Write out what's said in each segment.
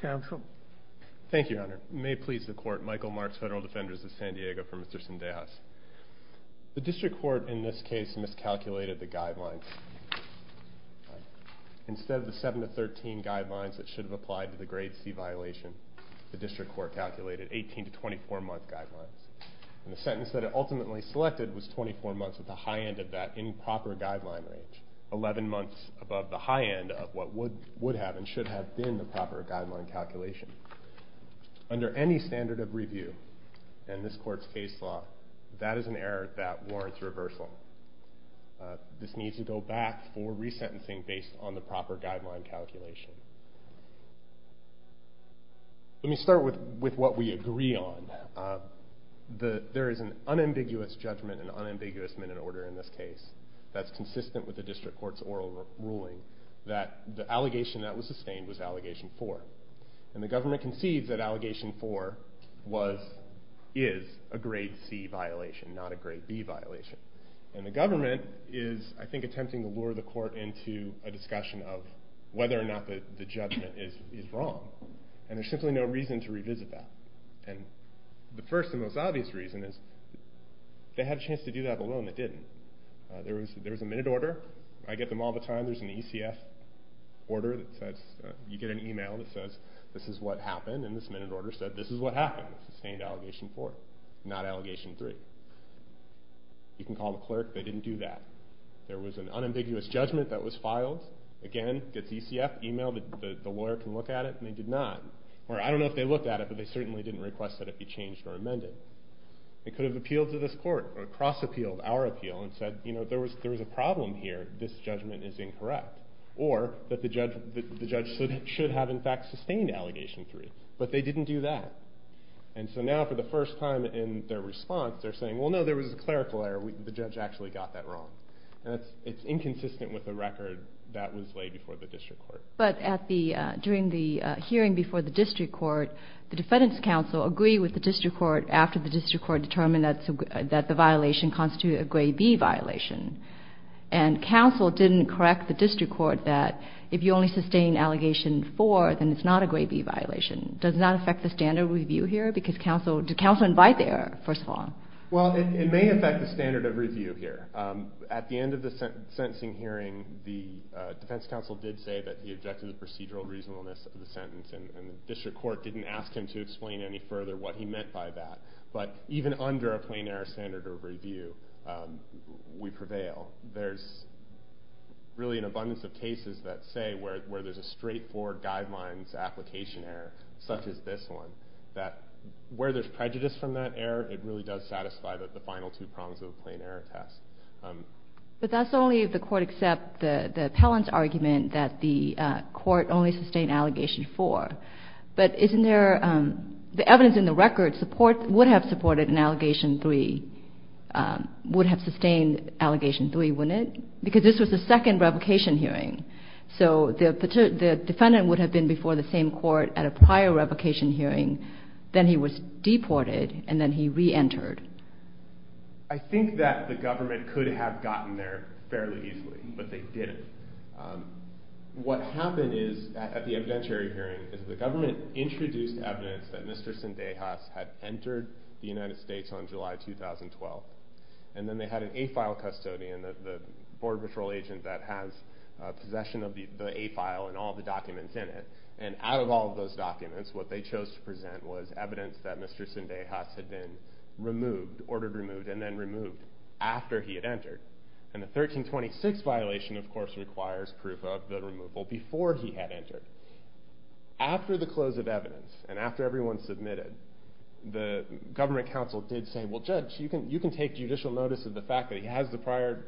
Counsel. Thank you, Your Honor. May it please the court, Michael Marks, Federal Defenders of San Diego, for Mr. Cendejas. The district court, in this case, miscalculated the guidelines. Instead of the seven to 13 guidelines that should have applied to the grade C violation, the district court calculated 18 to 24 month guidelines. And the sentence that it ultimately selected was 24 months at the high end of that improper guideline range, 11 months above the high end of what would have and should have been the proper guideline calculation. Under any standard of review, in this court's case law, that is an error that warrants reversal. This needs to go back for re-sentencing based on the proper guideline calculation. Let me start with what we agree on. There is an unambiguous judgment, an unambiguous minute order in this case, that's consistent with the district court's oral ruling, that the allegation that was sustained was allegation four. And the government concedes that allegation four was, is, a grade C violation, not a grade B violation. And the government is, I think, attempting to lure the court into a discussion of whether or not the, the judgment is, is wrong. And there's simply no reason to revisit that. And the first and most obvious reason is, they had a chance to do that alone. It didn't. There was, there was a minute order. I get them all the time. There's an ECF order that says, you get an email that says, this is what happened. And this minute order said, this is what happened, sustained allegation four, not allegation three. You can call the clerk, they didn't do that. There was an unambiguous judgment that was filed. Again, gets ECF, emailed it, the, the lawyer can look at it, and they did not. Or I don't know if they looked at it, but they certainly didn't request that it be changed or amended. It could have appealed to this court or cross-appealed our appeal and said, you know, there was, there was a problem here. This judgment is incorrect. Or that the judge, the judge should have in fact sustained allegation three. But they didn't do that. And so now for the first time in their response, they're saying, well no, there was a clerical error, we, the judge actually got that wrong. And it's, it's inconsistent with the record that was laid before the district court. But at the during the hearing before the district court, the defendant's counsel agreed with the district court after the district court determined that the violation constituted a grade B violation. And counsel didn't correct the district court that if you only sustain allegation four, then it's not a grade B violation. Does that affect the standard review here? Because counsel, did counsel invite the error, first of all? Well, it, it may affect the standard of review here. At the end of the sentencing hearing, the defense counsel did say that he objected to procedural reasonableness of the sentence. And the district court didn't ask him to explain any further what he meant by that. But even under a plain error standard of review, we prevail. There's really an abundance of cases that say where, where there's a straightforward guidelines application error, such as this one. That where there's prejudice from that error, it really does satisfy the final two prongs of the plain error test. But that's only if the court accept the, the appellant's argument that the court only sustained allegation four. But isn't there the evidence in the record support, would have supported an allegation three, would have sustained allegation three, wouldn't it? Because this was the second revocation hearing. So the, the defendant would have been before the same court at a prior revocation hearing, then he was deported and then he re-entered. I think that the government could have gotten there fairly easily, but they didn't. What happened is, at the evidentiary hearing, is the government introduced evidence that Mr. Sindejas had entered the United States on July 2012. And then they had an A-file custodian, the, the border patrol agent that has possession of the, the A-file and all the documents in it. And out of all of those documents, what they chose to present was evidence that Mr. Sindejas had been removed, ordered removed, and then removed after he had passed proof of the removal, before he had entered. After the close of evidence, and after everyone submitted, the government counsel did say, well judge, you can, you can take judicial notice of the fact that he has the prior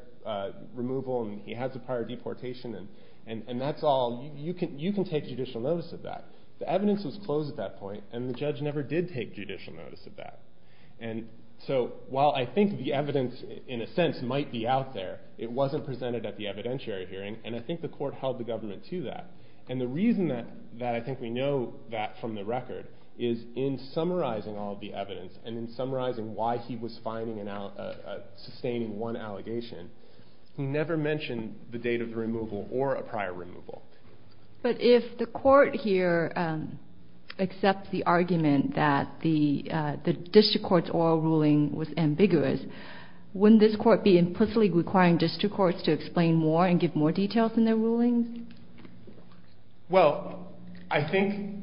removal and he has the prior deportation and, and, and that's all, you can, you can take judicial notice of that. The evidence was closed at that point and the judge never did take judicial notice of that. And so, while I think the evidence, in a sense, might be out there, it wasn't presented at the evidentiary hearing. And I think the court held the government to that. And the reason that, that I think we know that from the record, is in summarizing all of the evidence, and in summarizing why he was finding an, a, a, sustaining one allegation, he never mentioned the date of the removal or a prior removal. But if the court here accepts the argument that the the district court's oral ruling was ambiguous, wouldn't this court be implicitly requiring district courts to make more details in their rulings? Well, I think,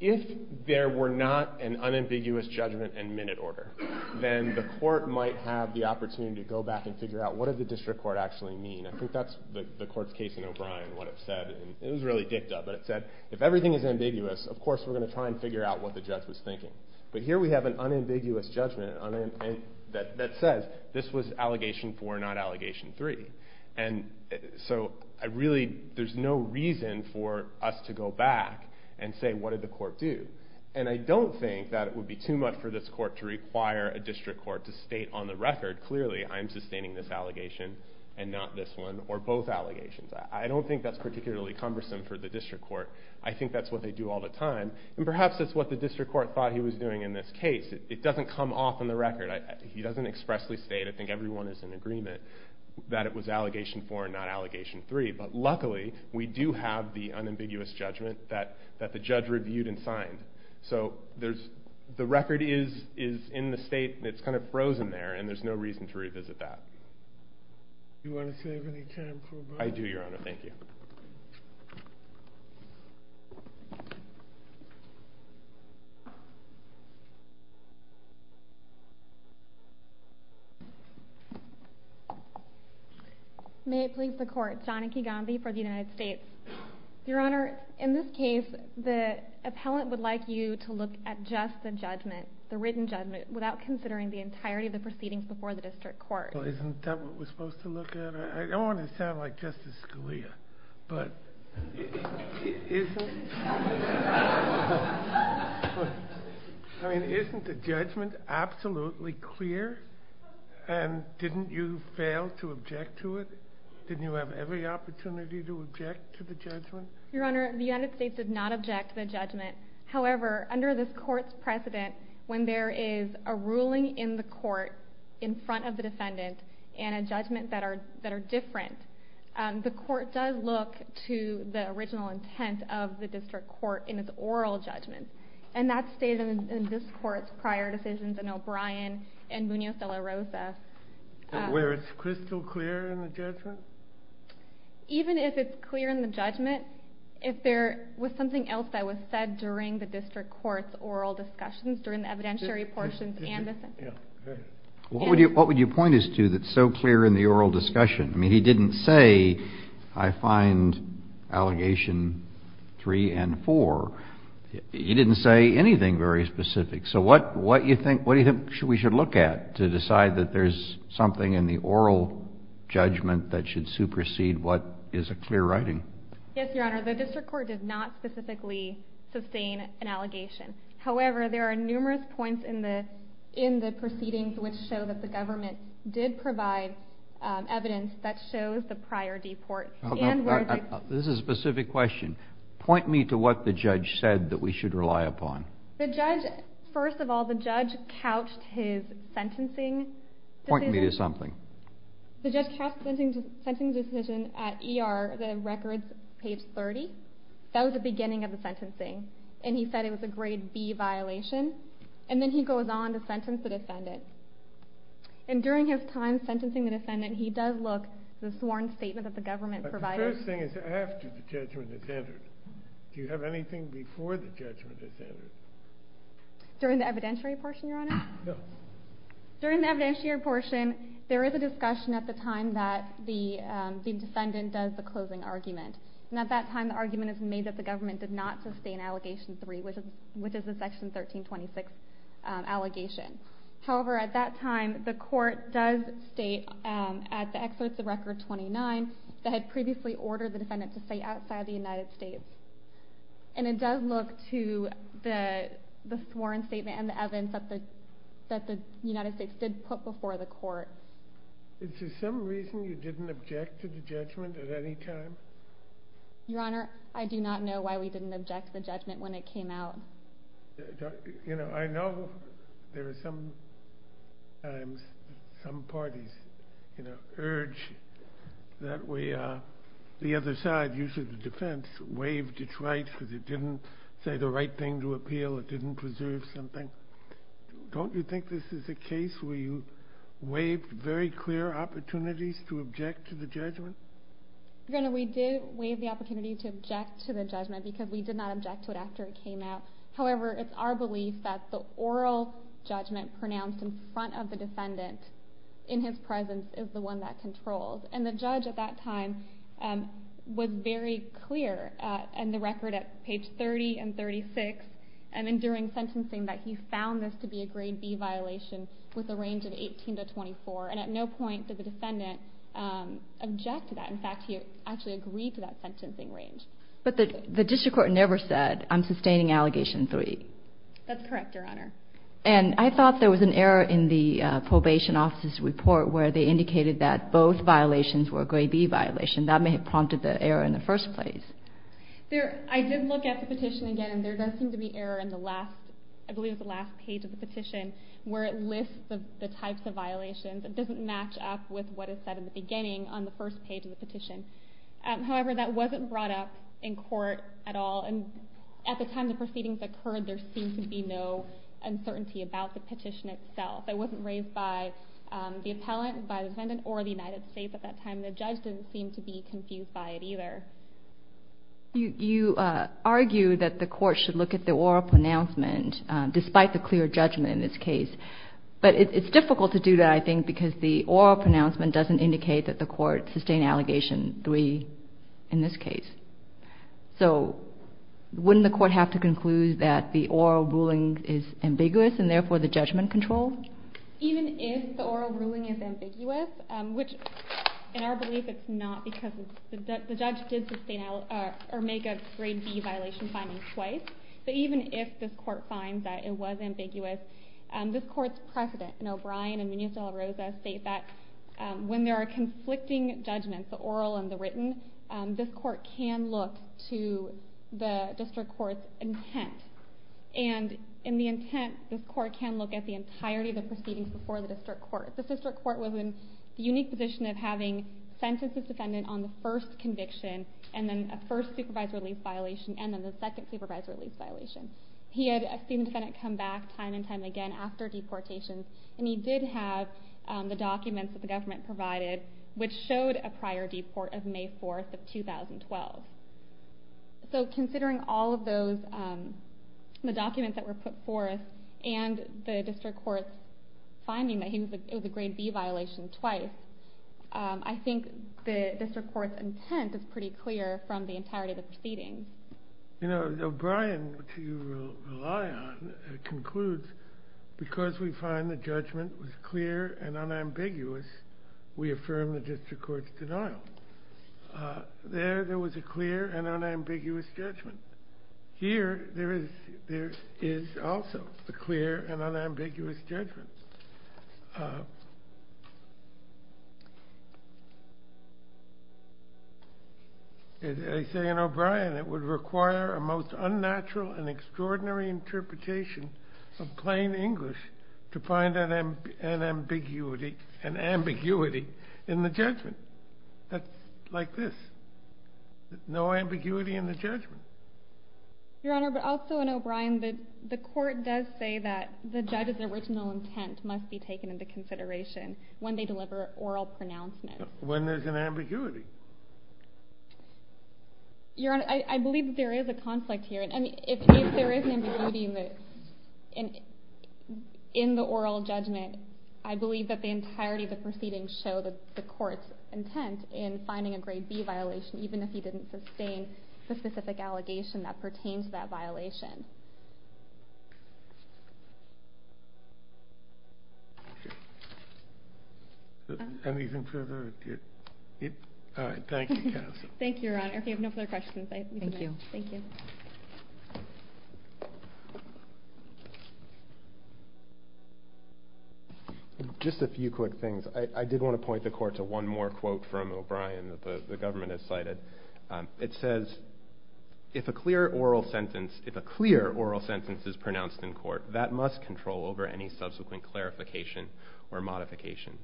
if there were not an unambiguous judgment and minute order, then the court might have the opportunity to go back and figure out what did the district court actually mean. I think that's the, the court's case in O'Brien, what it said, and it was really dicked up, but it said, if everything is ambiguous, of course we're gonna try and figure out what the judge was thinking. But here we have an unambiguous judgment on an, an, that, that says, this was allegation four, not allegation three. And so, I really, there's no reason for us to go back and say, what did the court do? And I don't think that it would be too much for this court to require a district court to state on the record, clearly, I'm sustaining this allegation, and not this one, or both allegations. I, I don't think that's particularly cumbersome for the district court. I think that's what they do all the time. And perhaps that's what the district court thought he was doing in this case. It doesn't come off in the record. He doesn't expressly state, I think everyone is in agreement, that it was allegation four and not allegation three. But luckily, we do have the unambiguous judgment that, that the judge reviewed and signed. So, there's, the record is, is in the state, and it's kind of frozen there, and there's no reason to revisit that. Do you want to save any time for a vote? I do, your honor. Thank you. May it please the court, John Akegambe for the United States. Your honor, in this case, the appellant would like you to look at just the judgment, the written judgment, without considering the entirety of the proceedings before the district court. Well, isn't that what we're supposed to look at? I, I don't want to sound like Justice Scalia, but, isn't. I mean, isn't the judgment absolutely clear? And didn't you fail to object to it? Didn't you have every opportunity to object to the judgment? Your honor, the United States did not object to the judgment. However, under this court's precedent, when there is a ruling in the court, in front of the defendant, and a judgment that are, that are different. The court does look to the original intent of the district court in its oral judgment, and that's stated in this court's prior decisions in O'Brien and Munoz-De La Rosa. Where it's crystal clear in the judgment? Even if it's clear in the judgment, if there was something else that was said during the district court's oral discussions, during the evidentiary portions and the sentence. What would you, what would you point us to that's so clear in the oral discussion? I mean, he didn't say, I find allegation three and four. He didn't say anything very specific. So what, what do you think we should look at to decide that there's something in the oral judgment that should supersede what is a clear writing? Yes, your honor. The district court did not specifically sustain an allegation. However, there are numerous points in the, in the proceedings which show that the government did provide evidence that shows the prior deport and where the. This is a specific question. Point me to what the judge said that we should rely upon. The judge, first of all, the judge couched his sentencing. Point me to something. The judge couched the sentencing decision at ER, the records page 30. That was the beginning of the sentencing. And he said it was a grade B violation. And then he goes on to sentence the defendant. And during his time sentencing the defendant, he does look the sworn statement that the government provided. The first thing is after the judgment is entered. Do you have anything before the judgment is entered? During the evidentiary portion, your honor? No. During the evidentiary portion, there is a discussion at the time that the the defendant does the closing argument, and at that time the argument is made that the government did not sustain allegation three, which is, which is a section 1326 allegation. However, at that time, the court does state at the exodus of record 29, that had previously ordered the defendant to stay outside the United States. And it does look to the, the sworn statement and the evidence that the, that the United States did put before the court. Is there some reason you didn't object to the judgment at any time? Your honor, I do not know why we didn't object to the judgment when it came out. You know, I know there are some times some parties, you know, urge that we the other side, usually the defense, waived its rights because it didn't say the right thing to appeal, it didn't preserve something. Don't you think this is a case where you waived very clear opportunities to object to the judgment? Your honor, we did waive the opportunity to object to the judgment, because we did not object to it after it came out. However, it's our belief that the oral judgment pronounced in front of the defendant, in his presence, is the one that controls. And the judge at that time was very clear and the record at page 30 and 36. And then during sentencing that he found this to be a grade B violation with a range of 18 to 24. And at no point did the defendant object to that. In fact, he actually agreed to that sentencing range. But the district court never said, I'm sustaining allegation three. That's correct, your honor. And I thought there was an error in the probation officer's report where they indicated that both violations were a grade B violation. That may have prompted the error in the first place. I did look at the petition again and there does seem to be error in the last, page of the petition, where it lists the types of violations. It doesn't match up with what is said in the beginning on the first page of the petition. However, that wasn't brought up in court at all. And at the time the proceedings occurred, there seemed to be no uncertainty about the petition itself. It wasn't raised by the appellant, by the defendant, or the United States. At that time, the judge didn't seem to be confused by it either. You argue that the court should look at the oral pronouncement, despite the clear judgment in this case. But it's difficult to do that, I think, because the oral pronouncement doesn't indicate that the court sustained allegation three in this case. So, wouldn't the court have to conclude that the oral ruling is ambiguous and therefore the judgment controlled? Even if the oral ruling is ambiguous, which in our belief it's not because the judge did make a grade B violation finding twice. But even if this court finds that it was ambiguous, this court's precedent, and O'Brien and Munoz-De La Rosa state that when there are conflicting judgments, the oral and the written, this court can look to the district court's intent. And in the intent, this court can look at the entirety of the proceedings before the district court. This district court was in the unique position of having sentences defendant on the first conviction, and then a first supervised release violation, and the second supervised release violation. He had a student defendant come back time and time again after deportation, and he did have the documents that the government provided, which showed a prior deport of May 4th of 2012. So, considering all of those, the documents that were put forth, and the district court's finding that it was a grade B violation twice, I think the district court's intent is pretty clear from the entirety of the proceedings. You know, O'Brien, which you rely on, concludes, because we find the judgment was clear and unambiguous, we affirm the district court's denial. There, there was a clear and unambiguous judgment. Here, there is, there is also a clear and unambiguous judgment. I say in O'Brien, it would require a most unnatural and extraordinary interpretation of plain English to find an ambiguity, an ambiguity in the judgment. That's like this, no ambiguity in the judgment. Your Honor, but also in O'Brien, the, the court does say that the judge's original intent must be taken into consideration when they deliver oral pronouncements. When there's an ambiguity. Your Honor, I, I believe that there is a conflict here. And I mean, if, if there is an ambiguity in the, in, in the oral judgment, in finding a grade B violation, even if he didn't sustain the specific allegation that pertains to that violation. Anything further? All right. Thank you, counsel. Thank you, Your Honor. If you have no further questions, I think you, thank you. Just a few quick things. I did want to point the court to one more quote from O'Brien that the, the government has cited. It says, if a clear oral sentence, if a clear oral sentence is pronounced in court, that must control over any subsequent clarification or modification.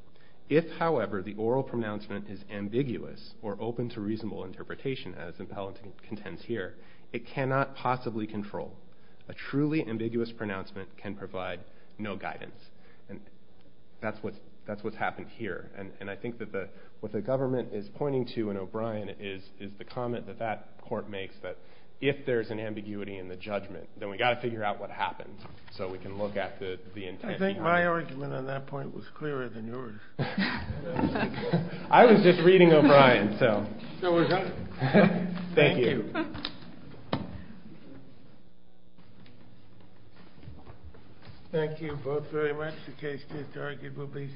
If, however, the oral pronouncement is ambiguous or open to reasonable interpretation, as the appellant contends here, it cannot possibly control. A truly ambiguous pronouncement can provide no guidance. And that's what's, that's what's happened here. And, and I think that the, what the government is pointing to in O'Brien is, is the comment that that court makes that if there's an ambiguity in the judgment, then we got to figure out what happened so we can look at the, the intent. I think my argument on that point was clearer than yours. I was just reading O'Brien. So, thank you. Thank you both very much. The case to be argued will be submitted.